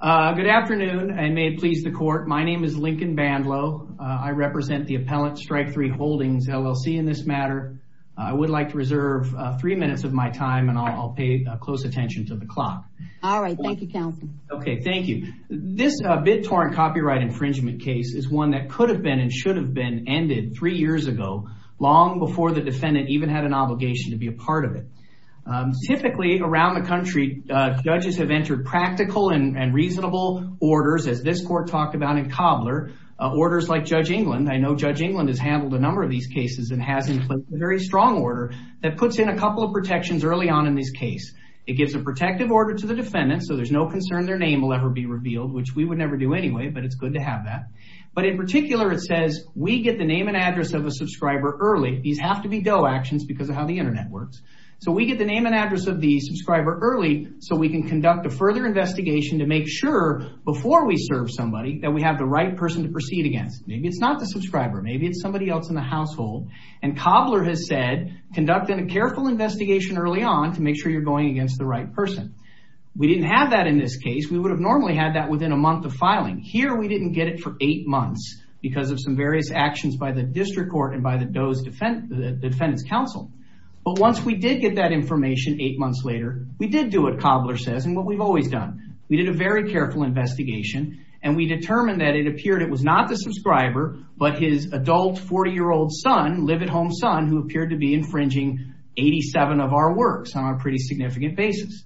Good afternoon and may it please the court. My name is Lincoln Bandlow. I represent the Appellant Strike 3 Holdings LLC in this matter. I would like to reserve three minutes of my time and I'll pay close attention to the clock. All right, thank you, counsel. Okay, thank you. This bid-torn copyright infringement case is one that could have been and should have been ended three years ago, long before the defendant even had an obligation to be a part of it. Typically, around the country, judges have entered practical and reasonable orders, as this court talked about in Cobbler, orders like Judge England. I know Judge England has handled a number of these cases and has in place a very strong order that puts in a couple of protections early on in this case. It gives a protective order to the defendant, so there's no concern their name will ever be revealed, which we would never do anyway, but it's good to have that. But in particular, it says, we get the name and address of a subscriber early. These have to be Doe actions because of how the internet works. We get the name and address of the subscriber early so we can conduct a further investigation to make sure, before we serve somebody, that we have the right person to proceed against. Maybe it's not the subscriber, maybe it's somebody else in the household. Cobbler has said, conduct a careful investigation early on to make sure you're going against the right person. We didn't have that in this case. We would have normally had that within a month of filing. Here, we didn't get it for eight months because of some various district court and Doe's defense counsel. But once we did get that information eight months later, we did do what Cobbler says and what we've always done. We did a very careful investigation and we determined that it appeared it was not the subscriber, but his adult 40-year-old son, live-at-home son, who appeared to be infringing 87 of our works on a pretty significant basis.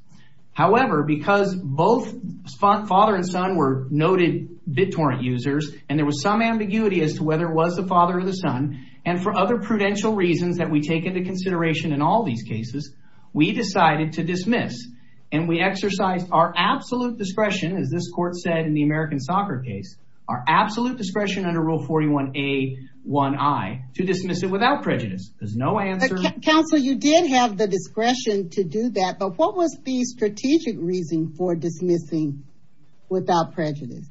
However, because both father and son were noted BitTorrent users and there was some ambiguity as to whether it was the father or the son, and for other prudential reasons that we take into consideration in all these cases, we decided to dismiss and we exercised our absolute discretion, as this court said in the American Soccer case, our absolute discretion under Rule 41a1i to dismiss it without prejudice. There's no answer. Counsel, you did have the discretion to do that, but what was the strategic reason for dismissing without prejudice?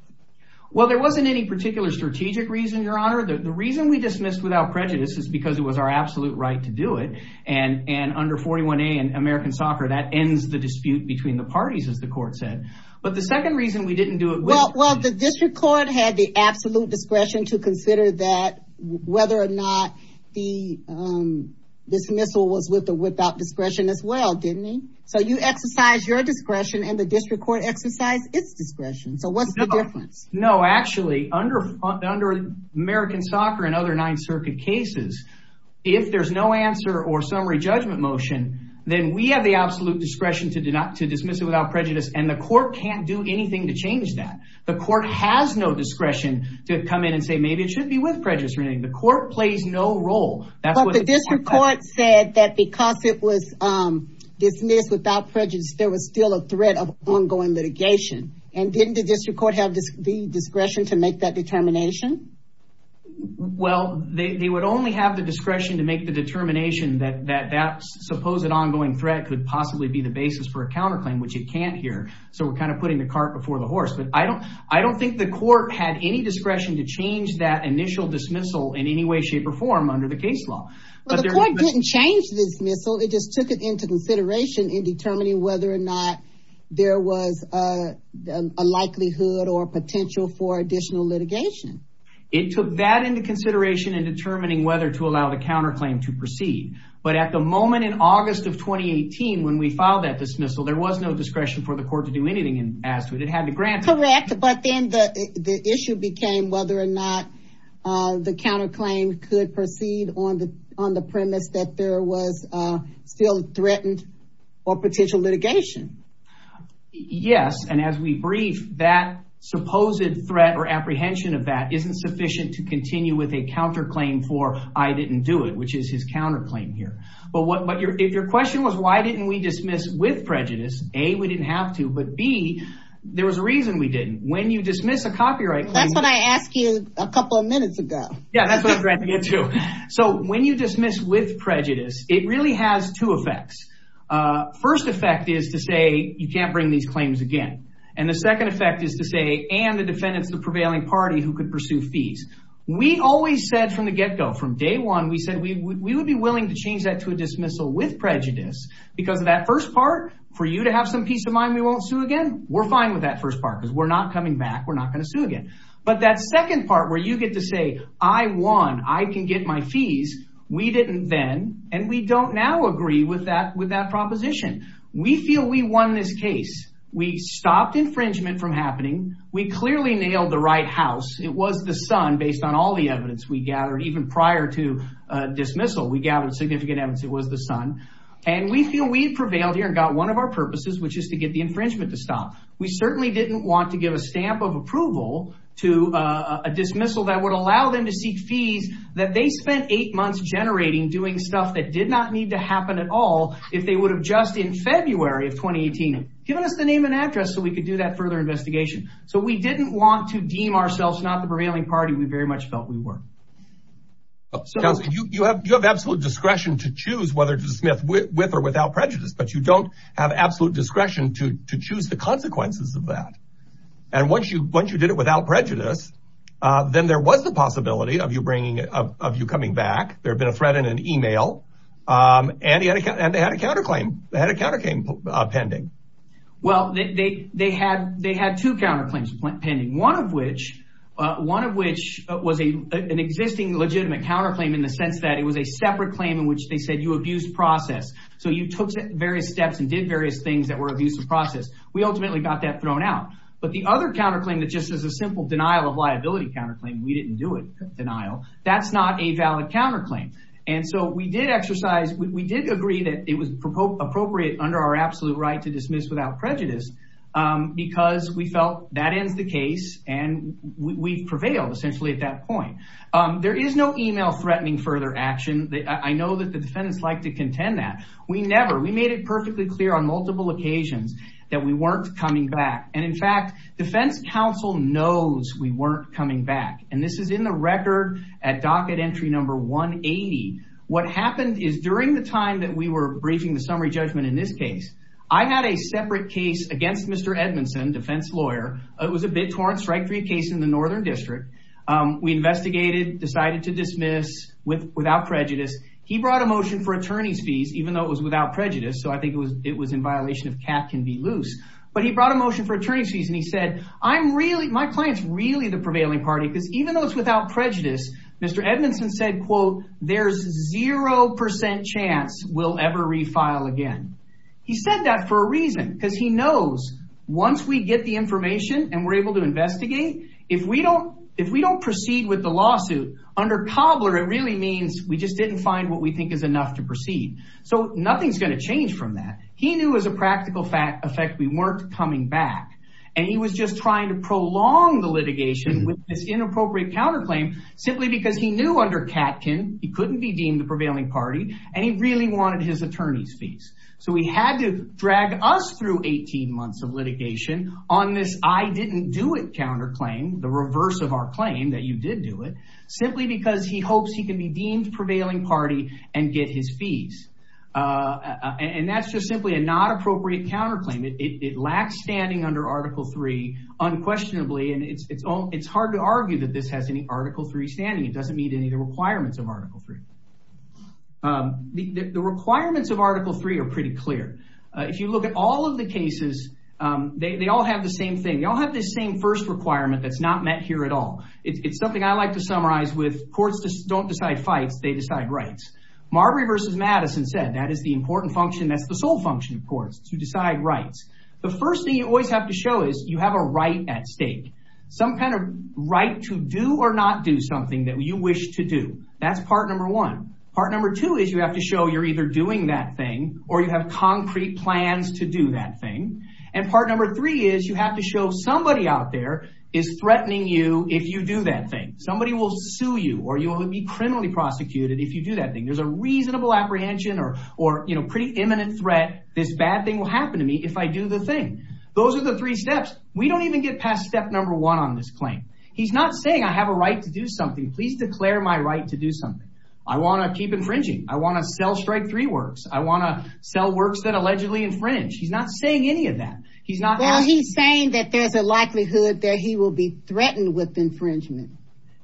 Well, there wasn't any strategic reason, Your Honor. The reason we dismissed without prejudice is because it was our absolute right to do it, and under 41a in American Soccer, that ends the dispute between the parties, as the court said. But the second reason we didn't do it... Well, the district court had the absolute discretion to consider that whether or not the dismissal was with or without discretion as well, didn't it? So you exercised your discretion and the district court exercised its discretion. So what's the difference? No, actually, under American Soccer and other Ninth Circuit cases, if there's no answer or summary judgment motion, then we have the absolute discretion to dismiss it without prejudice, and the court can't do anything to change that. The court has no discretion to come in and say, maybe it should be with prejudice or anything. The court plays no role. But the district court said that because it was dismissed without litigation, and didn't the district court have the discretion to make that determination? Well, they would only have the discretion to make the determination that that supposed ongoing threat could possibly be the basis for a counterclaim, which it can't here. So we're kind of putting the cart before the horse. But I don't think the court had any discretion to change that initial dismissal in any way, shape, or form under the case law. But the court didn't change the dismissal, it just took it into consideration in determining whether or not there was a likelihood or potential for additional litigation. It took that into consideration in determining whether to allow the counterclaim to proceed. But at the moment in August of 2018, when we filed that dismissal, there was no discretion for the court to do anything as to it. It had to grant it. Correct. But then the issue became whether or not the counterclaim could proceed on the premise that there was still threatened or potential litigation. Yes, and as we brief, that supposed threat or apprehension of that isn't sufficient to continue with a counterclaim for I didn't do it, which is his counterclaim here. But if your question was why didn't we dismiss with prejudice, A, we didn't have to, but B, there was a reason we didn't. When you dismiss a copyright claim... That's what I asked you a couple of minutes ago. Yeah, that's what I'm trying to get to. So when you dismiss with prejudice, it really has two effects. First effect is to say you can't bring these claims again. And the second effect is to say, and the defendants, the prevailing party who could pursue fees. We always said from the get-go, from day one, we said we would be willing to change that to a dismissal with prejudice because of that first part, for you to have some peace of mind, we won't sue again. We're fine with that first part because we're not coming back. We're not going to sue again. But that second part where you get to say, I won, I can get my fees, we didn't then, and we don't now agree with that proposition. We feel we won this case. We stopped infringement from happening. We clearly nailed the right house. It was the sun, based on all the evidence we gathered, even prior to dismissal, we gathered significant evidence it was the sun. And we feel we prevailed here and got one of our purposes, which is to get the infringement to stop. We certainly didn't want to give a stamp of approval to a dismissal that would allow them to seek fees that they spent eight months generating doing stuff that did not need to happen at all if they would have just in February of 2018 given us the name and address so we could do that further investigation. So we didn't want to deem ourselves not the prevailing party. We very much felt we were. You have absolute discretion to choose whether to dismiss with or without prejudice, but you don't have absolute discretion to choose the consequences of that. And once you did it without prejudice, then there was the possibility of you coming back, there had been a threat in an email, and they had a counterclaim pending. Well, they had two counterclaims pending, one of which was an existing legitimate counterclaim in the sense that it was a separate claim in which they said you abused process. So you took various steps and did various things that were abuse of process. We ultimately got that thrown out. But the other counterclaim that just is a simple denial of liability counterclaim, we didn't do it denial. That's not a valid counterclaim. And so we did exercise, we did agree that it was appropriate under our absolute right to dismiss without prejudice because we felt that ends the case and we've prevailed essentially at that point. There is no email threatening further action. I know that the defendants like to contend that. We never, we made it perfectly clear on multiple occasions that we weren't coming back. And in fact, defense counsel knows we weren't coming back. And this is in the record at docket entry number 180. What happened is during the time that we were briefing the summary judgment in this case, I had a separate case against Mr. Edmondson, defense lawyer. It was a bit torn strike three case in the Northern District. We investigated, decided to dismiss without prejudice. He brought a motion for attorney's fees, even though it was without prejudice. So I think it was, it was in violation of cat can be loose, but he brought a motion for attorney's fees. And he said, I'm really, my client's really the prevailing party because even though it's without prejudice, Mr. Edmondson said, quote, there's 0% chance we'll ever refile again. He said that for a reason because he knows once we get the information and we're able to investigate, if we don't, if we don't proceed with the lawsuit under cobbler, it really means we just didn't find what we think is enough to proceed. So nothing's going to change from that. He knew as a practical fact effect, we weren't coming back and he was just trying to prolong the litigation with this inappropriate counterclaim simply because he knew under Katkin, he couldn't be deemed the prevailing party and he really wanted his attorney's fees. So we had to drag us through 18 months of litigation on this. I didn't do it counterclaim the reverse of our claim that you did do it simply because he hopes he can be deemed prevailing party and get his fees. Uh, and that's just simply a not appropriate counterclaim. It, it, it lacks standing under article three unquestionably. And it's, it's all, it's hard to argue that this has any article three standing. It doesn't meet any of the requirements of article three are pretty clear. Uh, if you look at all of the cases, um, they, they all have the same thing. Y'all have this same first requirement. That's not met here at all. It's something I like to summarize with courts just don't decide fights. They decide rights. Marbury versus Madison said that is the important function. That's the sole function of courts to decide rights. The first thing you always have to show is you have a right at stake, some kind of right to do or not do something that you wish to do. That's part number one. Part number two is you have to show you're either doing that thing or you have concrete plans to do that thing. And part number three is you have to show somebody out there is threatening you. If you do that thing, somebody will sue you or you will be criminally prosecuted. If you do that thing, there's a reasonable apprehension or, or, you know, pretty imminent threat. This bad thing will happen to me. If I do the thing, those are the three steps. We don't even get past step one on this claim. He's not saying I have a right to do something. Please declare my right to do something. I want to keep infringing. I want to sell strike three works. I want to sell works that allegedly infringe. He's not saying any of that. He's not saying that there's a likelihood that he will be threatened with infringement,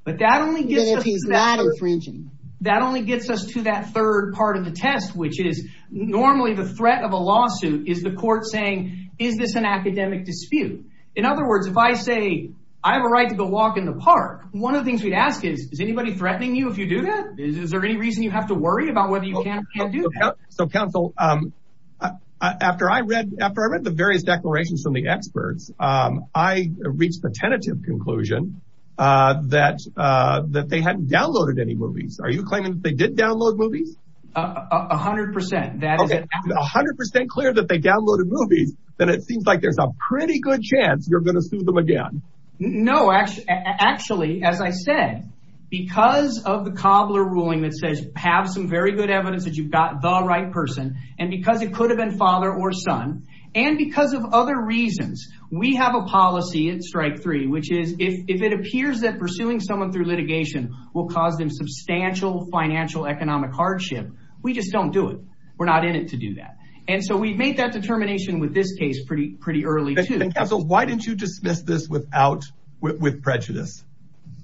but that only gets infringing. That only gets us to that third part of the test, which is normally the threat of a lawsuit is the court saying, is this an academic dispute? In other words, if I say I have a right to go walk in the park, one of the things we'd ask is, is anybody threatening you? If you do that, is there any reason you have to worry about whether you can't do that? So counsel, um, uh, after I read, after I read the various declarations from the experts, um, I reached the tentative conclusion, uh, that, uh, that they hadn't downloaded any movies. Are you claiming that they did download movies? A hundred percent. That is a hundred percent clear that they downloaded movies. Then it seems like there's a pretty good chance. You're going to sue them again. No, actually, actually, as I said, because of the cobbler ruling that says have some very good evidence that you've got the right person. And because it could have been father or son, and because of other reasons, we have a policy in strike three, which is if it appears that pursuing someone through litigation will cause them substantial financial economic hardship, we just don't do it. We're not in it to do that. And so we've made that determination with this case pretty, pretty early too. And counsel, why didn't you dismiss this without, with, with prejudice?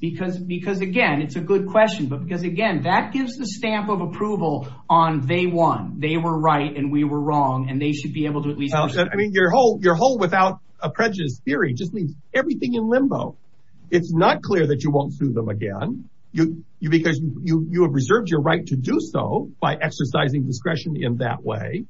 Because, because again, it's a good question, but because again, that gives the stamp of approval on day one, they were right and we were wrong and they should be able to at least, I mean, your whole, your whole without a prejudice theory just leaves everything in limbo. It's not clear that you won't sue them again. You, you, because you, you have reserved your right to do so by exercising discretion in that way.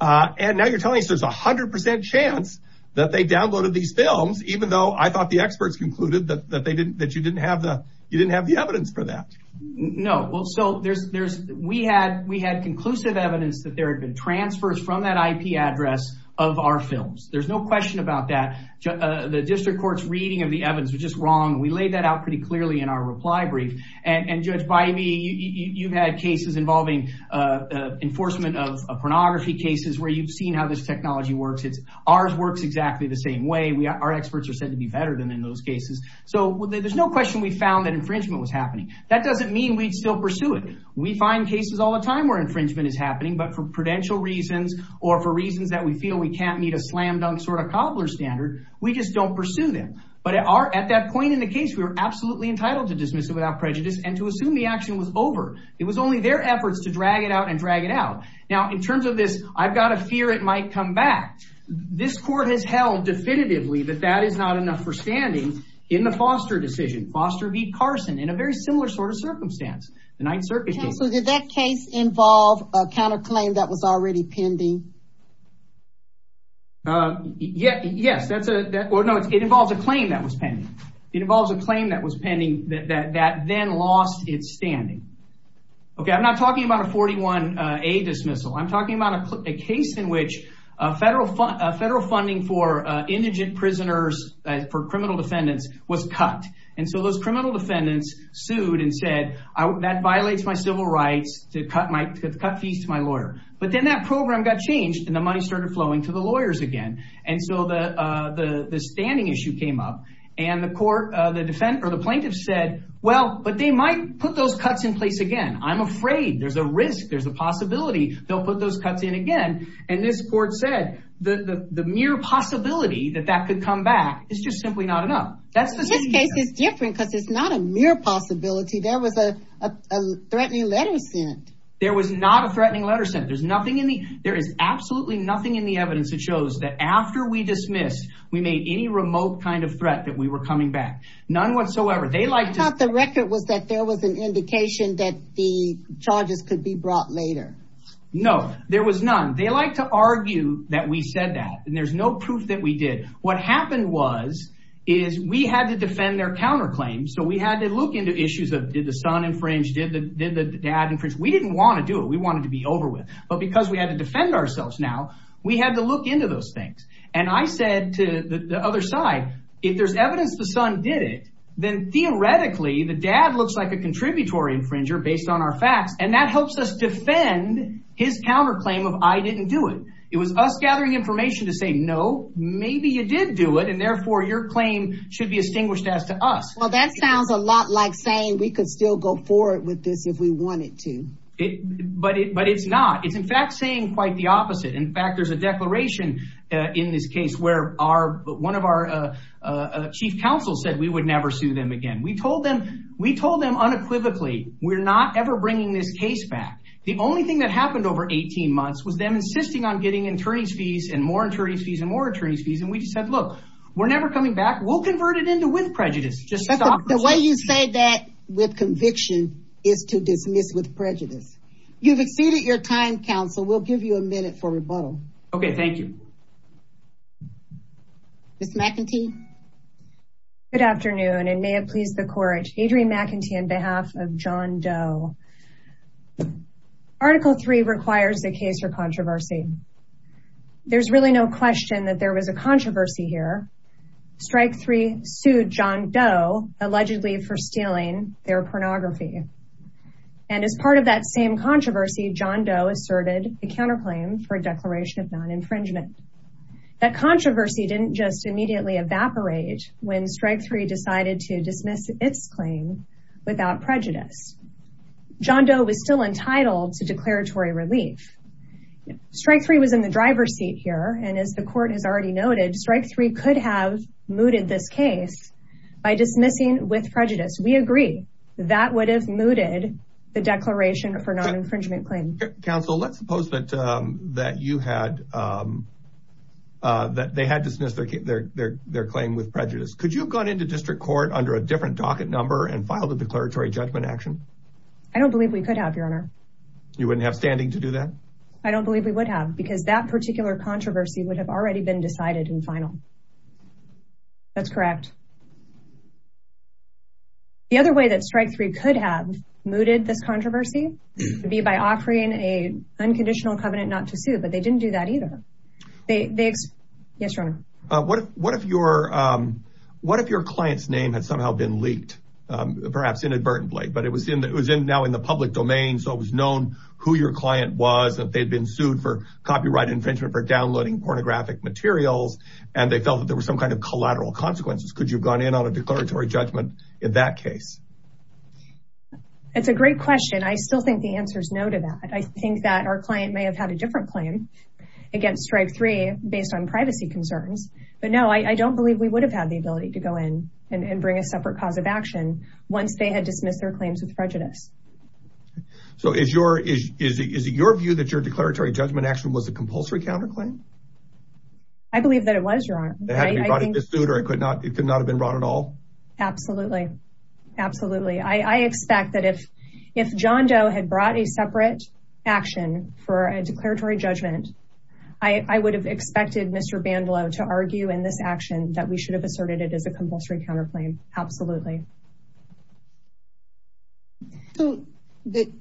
Uh, and now you're telling us there's a hundred percent chance that they downloaded these films, even though I thought the experts concluded that, that they didn't, that you didn't have the, you didn't have the evidence for that. No. Well, so there's, there's, we had, we had conclusive evidence that there had been transfers from that IP address of our films. There's no question about that. Uh, the district court's reading of the evidence was just wrong. And we laid that out pretty clearly in our reply brief and judge Bybee, you've had cases involving, uh, uh, enforcement of a pornography cases where you've seen how this technology works. It's ours works exactly the same way we are. Our experts are said to be better than in those cases. So there's no question we found that infringement was happening. That doesn't mean we'd still pursue it. We find cases all the time where infringement is happening, but for prudential reasons or for reasons that we feel we can't meet a slam dunk sort of cobbler standard, we just don't pursue them. But at our, at that point in the case, we were absolutely entitled to dismiss it without prejudice and to assume the action was over. It was only their efforts to drag it out and drag it out. Now, in terms of this, I've got a fear it might come back. This court has held definitively that that is not enough for standing in the Foster decision. Foster beat Carson in a very similar sort of circumstance. The ninth circuit case. So did that case involve a counter claim that was already pending? Uh, yeah, yes. That's no, it involves a claim that was pending. It involves a claim that was pending that then lost its standing. Okay. I'm not talking about a 41 a dismissal. I'm talking about a case in which a federal fund, a federal funding for indigent prisoners for criminal defendants was cut. And so those criminal defendants sued and said, I, that violates my civil rights to cut my cut fees to my lawyer. But then that program got changed and the money started flowing to the standing issue came up and the court, uh, the defense or the plaintiff said, well, but they might put those cuts in place again. I'm afraid there's a risk. There's a possibility they'll put those cuts in again. And this court said the, the, the mere possibility that that could come back is just simply not enough. That's this case is different because it's not a mere possibility. There was a, a threatening letter sent. There was not a threatening letter sent. There's nothing in There is absolutely nothing in the evidence that shows that after we dismissed, we made any remote kind of threat that we were coming back. None whatsoever. They liked the record was that there was an indication that the charges could be brought later. No, there was none. They like to argue that we said that, and there's no proof that we did. What happened was is we had to defend their counterclaims. So we had to look into issues of did the son infringe did the, did the dad We didn't want to do it. We wanted to be over with, but because we had to defend ourselves now, we had to look into those things. And I said to the other side, if there's evidence, the son did it, then theoretically, the dad looks like a contributory infringer based on our facts. And that helps us defend his counterclaim of, I didn't do it. It was us gathering information to say, no, maybe you did do it. And therefore your claim should be extinguished as to us. That sounds a lot like saying we could still go forward with this if we wanted to. But it, but it's not, it's in fact, saying quite the opposite. In fact, there's a declaration in this case where our, one of our chief counsel said we would never sue them again. We told them, we told them unequivocally, we're not ever bringing this case back. The only thing that happened over 18 months was them insisting on getting attorney's fees and more attorney's fees and more attorney's fees. And we just said, look, we're never coming back. We'll convert it to win prejudice. The way you say that with conviction is to dismiss with prejudice. You've exceeded your time counsel. We'll give you a minute for rebuttal. Okay. Thank you. Ms. McEntee. Good afternoon and may it please the court. Adrienne McEntee on behalf of John Doe. Article three requires a case for controversy. There's really no question that there was a John Doe allegedly for stealing their pornography. And as part of that same controversy, John Doe asserted a counterclaim for a declaration of non-infringement. That controversy didn't just immediately evaporate when strike three decided to dismiss its claim without prejudice. John Doe was still entitled to declaratory relief. Strike three was in the driver's seat here. And as the court has already noted, strike three could have mooted this case by dismissing with prejudice. We agree that would have mooted the declaration for non-infringement claim. Counsel, let's suppose that they had dismissed their claim with prejudice. Could you have gone into district court under a different docket number and filed a declaratory judgment action? I don't believe we could have your honor. You wouldn't have standing to do that? I don't believe we would have because that that's correct. The other way that strike three could have mooted this controversy would be by offering a unconditional covenant not to sue, but they didn't do that either. Yes, your honor. What if your client's name had somehow been leaked, perhaps inadvertently, but it was in now in the public domain. So it was known who your client was that they'd been sued for copyright infringement for downloading pornographic materials, and they felt that there was some kind of collateral consequences. Could you have gone in on a declaratory judgment in that case? It's a great question. I still think the answer is no to that. I think that our client may have had a different claim against strike three based on privacy concerns. But no, I don't believe we would have had the ability to go in and bring a separate cause of action once they had dismissed their claims with prejudice. So is it your view that your declaratory judgment action was a compulsory counterclaim? I believe that it was wrong. It had to be brought into suit or it could not it could not have been wrong at all. Absolutely. Absolutely. I expect that if John Doe had brought a separate action for a declaratory judgment, I would have expected Mr. Bandalow to argue in this action that we should have asserted it as a compulsory counterclaim. Absolutely. Do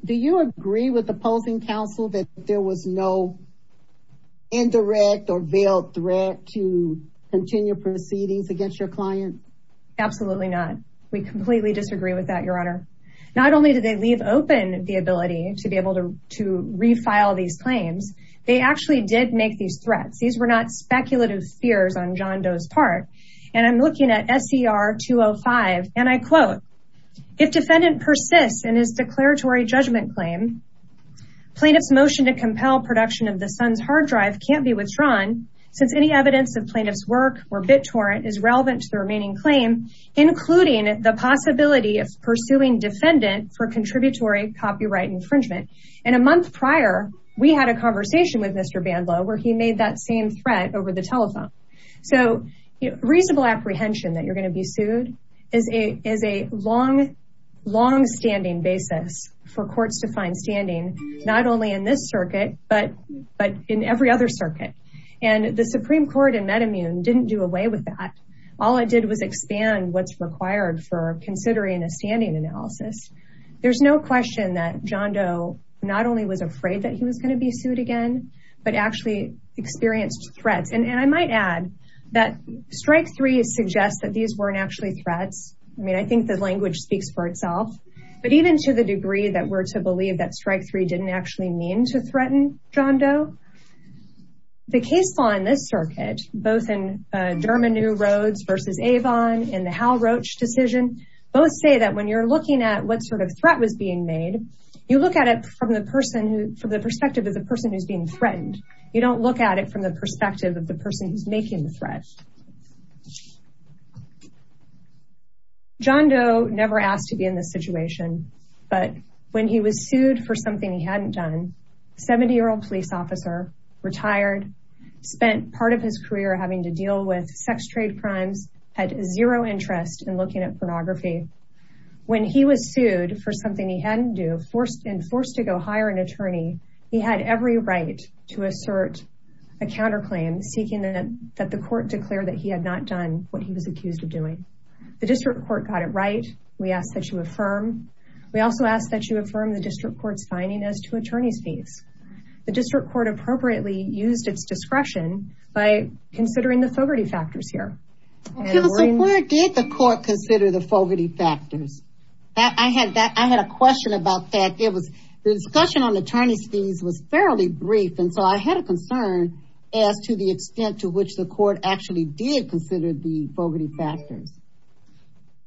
you agree with opposing counsel that there was no indirect or veiled threat to continue proceedings against your client? Absolutely not. We completely disagree with that, Your Honor. Not only did they leave open the ability to be able to refile these claims, they actually did make these threats. These were not 205 and I quote, if defendant persists in his declaratory judgment claim, plaintiff's motion to compel production of the son's hard drive can't be withdrawn since any evidence of plaintiff's work or bit torrent is relevant to the remaining claim, including the possibility of pursuing defendant for contributory copyright infringement. And a month prior, we had a conversation with Mr. Bandalow where he made that same threat over the telephone. So reasonable apprehension that you're going to be sued is a long, long standing basis for courts to find standing, not only in this circuit, but in every other circuit. And the Supreme Court in Metamune didn't do away with that. All it did was expand what's required for considering a standing analysis. There's no question that John Doe not only was afraid that he was going to be sued again, but actually experienced threats. And I might add that strike three suggests that these weren't actually threats. I mean, I think the language speaks for itself, but even to the degree that we're to believe that strike three didn't actually mean to threaten John Doe. The case law in this circuit, both in Germano Rhodes versus Avon and the Hal Roach decision, both say that when you're looking at what sort of threat was being made, you look at it from the perspective of the person who's threatened. You don't look at it from the perspective of the person who's making the threat. John Doe never asked to be in this situation, but when he was sued for something he hadn't done, 70-year-old police officer, retired, spent part of his career having to deal with sex trade crimes, had zero interest in looking at pornography. When he was sued for something he hadn't do and forced to go hire an attorney, he had every right to assert a counterclaim seeking that the court declare that he had not done what he was accused of doing. The district court got it right. We ask that you affirm. We also ask that you affirm the district court's finding as to attorney's fees. The district court appropriately used its discretion by considering the Fogarty factors here. Did the court consider the Fogarty factors? I had a question about that. The discussion on attorney's fees was fairly brief and so I had a concern as to the extent to which the court actually did consider the Fogarty factors.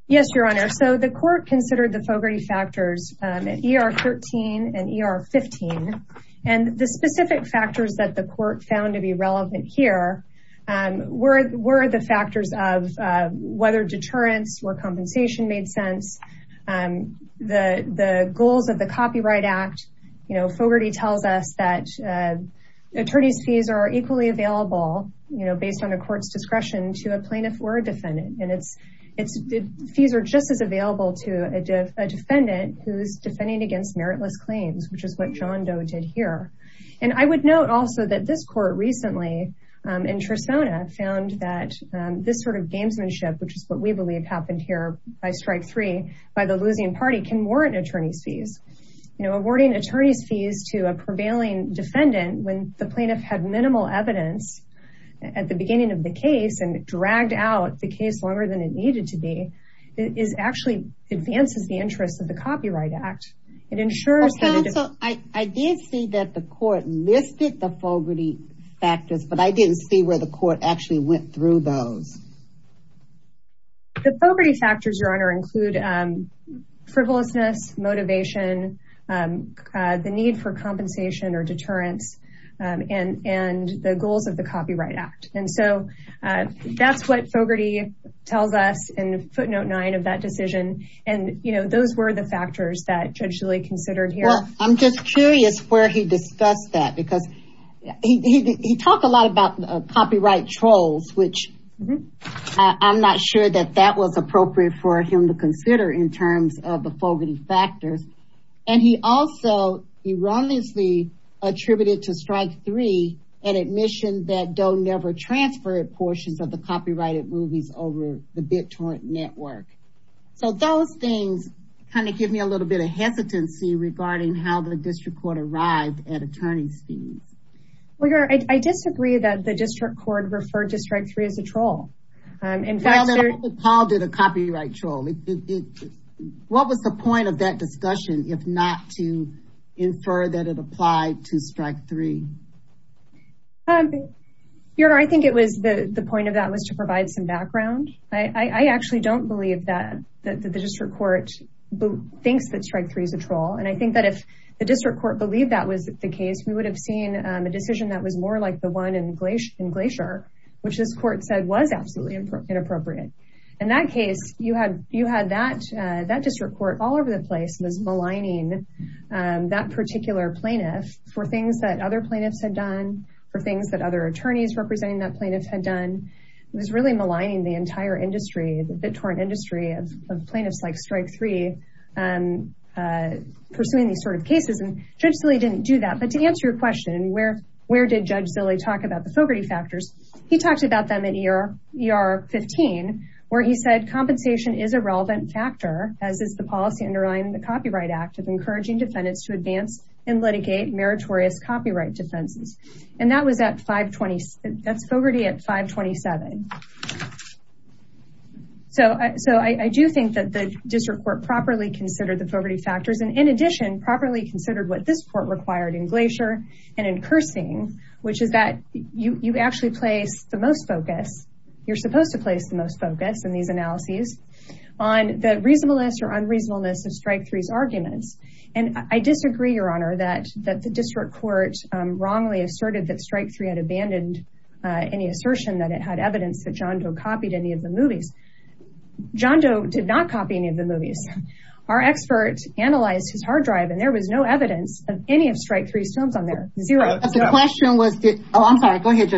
Yes, your honor. The court considered the Fogarty factors in ER 13 and ER 15. The specific factors that the court found to be relevant here were the factors of whether deterrence or compensation made sense, the goals of the Copyright Act. Fogarty tells us that attorney's fees are equally available based on a court's discretion to a plaintiff or a defendant. Fees are just as available to a defendant who's defending against meritless claims, which is what John Doe did here. I would note also that this court recently in Trisona found that this sort of gamesmanship, which is what we believe happened here by strike three by the losing party, can warrant attorney's fees. Awarding attorney's fees to a prevailing defendant when the plaintiff had minimal evidence at the beginning of the case and dragged out the case longer than it needed to be actually advances the interests of the factors. But I didn't see where the court actually went through those. The Fogarty factors, your honor, include frivolousness, motivation, the need for compensation or deterrence, and the goals of the Copyright Act. And so that's what Fogarty tells us in footnote nine of that decision. And, you know, those were the factors that he talked a lot about copyright trolls, which I'm not sure that that was appropriate for him to consider in terms of the Fogarty factors. And he also erroneously attributed to strike three an admission that Doe never transferred portions of the copyrighted movies over the BitTorrent network. So those things kind of give me a little bit of hesitancy regarding how the district court arrived at attorney's fees. Well, your honor, I disagree that the district court referred to strike three as a troll. In fact, Paul did a copyright troll. What was the point of that discussion if not to infer that it applied to strike three? Your honor, I think it was the point of that was to provide some background. I actually don't believe that the district court thinks that strike three is a troll. And I think if the district court believed that was the case, we would have seen a decision that was more like the one in Glacier, which this court said was absolutely inappropriate. In that case, you had that district court all over the place was maligning that particular plaintiff for things that other plaintiffs had done, for things that other attorneys representing that plaintiff had done. It was really maligning the entire industry, the BitTorrent industry of plaintiffs like strike three, pursuing these sort of cases. And Judge Zille didn't do that. But to answer your question, where did Judge Zille talk about the Fogarty factors? He talked about them in ER 15, where he said compensation is a relevant factor, as is the policy underlying the Copyright Act of encouraging defendants to advance and litigate meritorious copyright defenses. And that was at 520, that's Fogarty at 527. So I do think that the district court properly considered the Fogarty factors and in addition, properly considered what this court required in Glacier and in Cursing, which is that you actually place the most focus, you're supposed to place the most focus in these analyses on the reasonableness or unreasonableness of strike three's arguments. And I disagree, that the district court wrongly asserted that strike three had abandoned any assertion that it had evidence that John Doe copied any of the movies. John Doe did not copy any of the movies. Our expert analyzed his hard drive and there was no evidence of any of strike three's films on there. Zero. The question was, oh, I'm sorry, go ahead.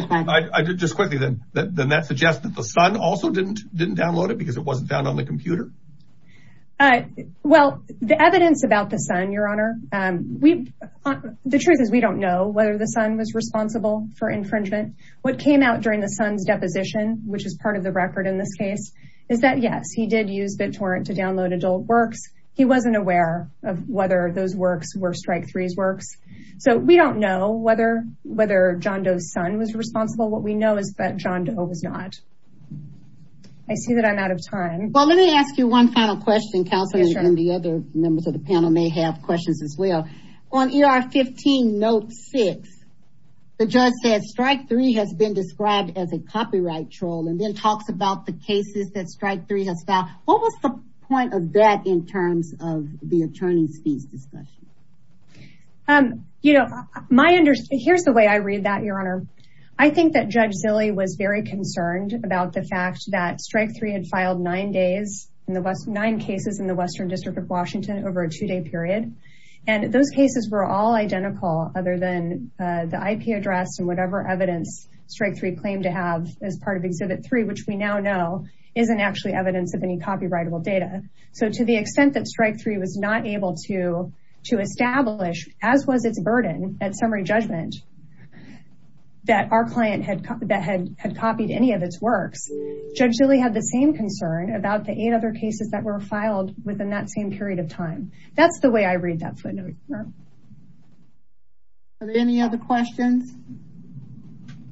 Just quickly, then that suggests that the Sun also didn't didn't download it because it wasn't found on the computer? Uh, well, the evidence about the Sun, Your Honor, we, the truth is, we don't know whether the Sun was responsible for infringement. What came out during the Sun's deposition, which is part of the record in this case, is that yes, he did use BitTorrent to download adult works. He wasn't aware of whether those works were strike three's works. So we don't know whether whether John Doe's Sun was responsible. What we know is that John Doe was not. I see that I'm out of time. Well, let me ask you one final question, Counselor, and the other members of the panel may have questions as well. On ER 15 note six, the judge said strike three has been described as a copyright troll and then talks about the cases that strike three has filed. What was the point of that in terms of the attorney's fees discussion? Um, you know, my understanding, here's the way I read that, Your Honor. I think that Judge Zilley was very concerned about the in the nine cases in the Western District of Washington over a two day period. And those cases were all identical other than the IP address and whatever evidence strike three claimed to have as part of exhibit three, which we now know isn't actually evidence of any copyrightable data. So to the extent that strike three was not able to to establish, as was its burden at summary judgment, that our client had that had had copied any of its works, Judge Zilley had the same concern about the eight other cases that were filed within that same period of time. That's the way I read that footnote. Are there any other questions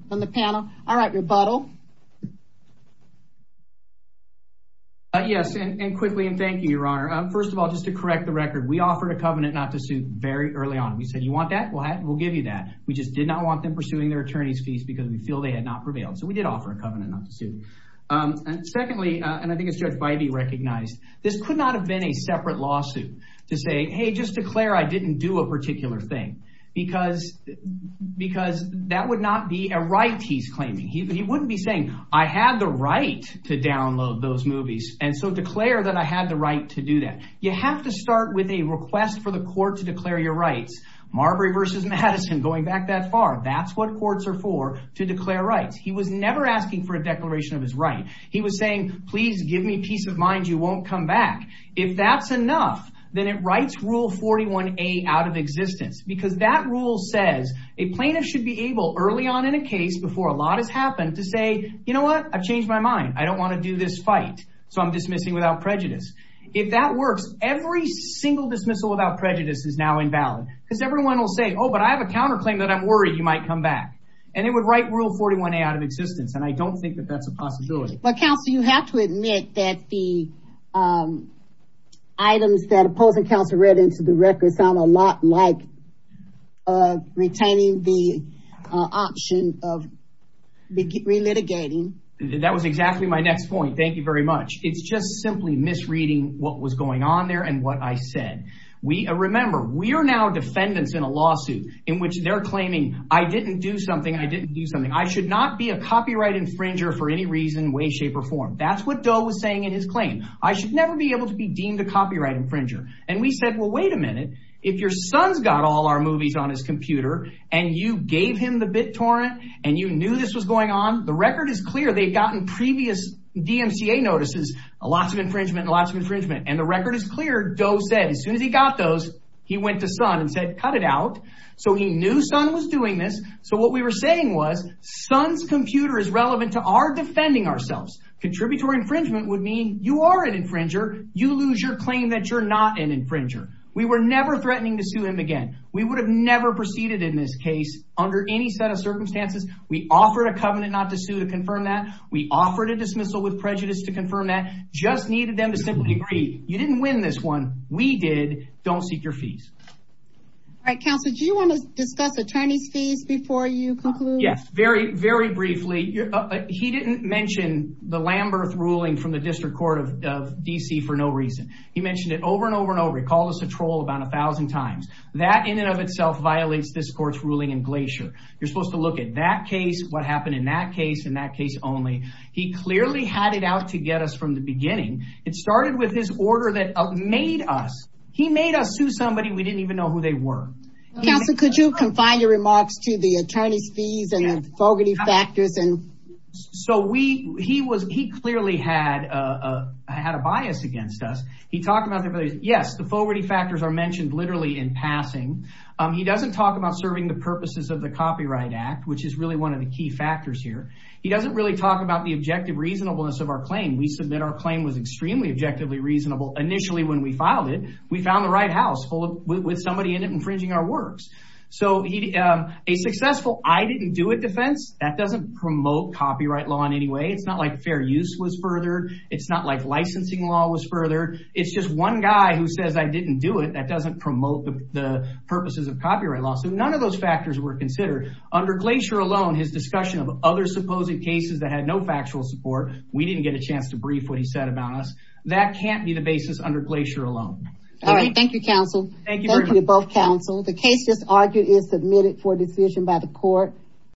from the panel? All right, rebuttal. Yes, and quickly, and thank you, Your Honor. First of all, just to correct the record, we offered a covenant not to sue very early on. We said, you want that? We'll give you that. We just did not want them pursuing their attorney's fees because we feel they had not prevailed. So did offer a covenant not to sue. And secondly, and I think it's Judge Bybee recognized, this could not have been a separate lawsuit to say, hey, just declare I didn't do a particular thing because that would not be a right he's claiming. He wouldn't be saying, I had the right to download those movies. And so declare that I had the right to do that. You have to start with a request for the court to declare your rights. Marbury versus Madison, going back that far. That's what courts are for, to declare rights. He was never asking for a declaration of his right. He was saying, please give me peace of mind. You won't come back. If that's enough, then it writes Rule 41A out of existence because that rule says a plaintiff should be able early on in a case before a lot has happened to say, you know what? I've changed my mind. I don't want to do this fight. So I'm dismissing without prejudice. If that works, every single dismissal without prejudice is now invalid because everyone will say, oh, but I have a counterclaim that I'm worried you might come back. And it would write Rule 41A out of existence. And I don't think that that's a possibility. But counsel, you have to admit that the items that opposing counsel read into the record sound a lot like retaining the option of relitigating. That was exactly my next point. Thank you very much. It's just simply misreading what was going on there and what I We are now defendants in a lawsuit in which they're claiming I didn't do something. I didn't do something. I should not be a copyright infringer for any reason, way, shape or form. That's what Doe was saying in his claim. I should never be able to be deemed a copyright infringer. And we said, well, wait a minute. If your son's got all our movies on his computer and you gave him the BitTorrent and you knew this was going on, the record is clear. They've gotten previous DMCA notices, lots of infringement, lots of infringement. And the record is clear. Doe said as soon as he got those, he went to son and said, cut it out. So he knew son was doing this. So what we were saying was son's computer is relevant to our defending ourselves. Contributory infringement would mean you are an infringer. You lose your claim that you're not an infringer. We were never threatening to sue him again. We would have never proceeded in this case under any set of circumstances. We offered a covenant not to sue to confirm that. We offered a dismissal with prejudice to confirm that just needed them to simply agree. You didn't win this one. We did. Don't seek your fees. All right. Counselor, do you want to discuss attorney's fees before you conclude? Yes. Very, very briefly. He didn't mention the Lamberth ruling from the District Court of D.C. for no reason. He mentioned it over and over and over. He called us a troll about a thousand times. That in and of itself violates this court's ruling in Glacier. You're supposed to look at that case, what happened in that case, in that case only. He clearly had it out to get us from the beginning. It started with his order that made us. He made us sue somebody we didn't even know who they were. Counselor, could you confine your remarks to the attorney's fees and the Fogarty factors? So he clearly had a bias against us. He talked about, yes, the Fogarty factors are mentioned literally in passing. He doesn't talk about serving the purposes of the Copyright Act, which is really one of the key factors here. He doesn't really talk about the objective reasonableness of our claim. We submit our claim was extremely objectively reasonable initially when we filed it. We found the right house with somebody in it infringing our works. So a successful, I didn't do it defense, that doesn't promote copyright law in any way. It's not like fair use was furthered. It's not like licensing law was furthered. It's just one guy who says, I didn't do it. That doesn't promote the purposes of copyright law. So none of those his discussion of other supposed cases that had no factual support, we didn't get a chance to brief what he said about us. That can't be the basis under Glacier alone. All right. Thank you, counsel. Thank you to both counsel. The case just argued is submitted for decision by the court.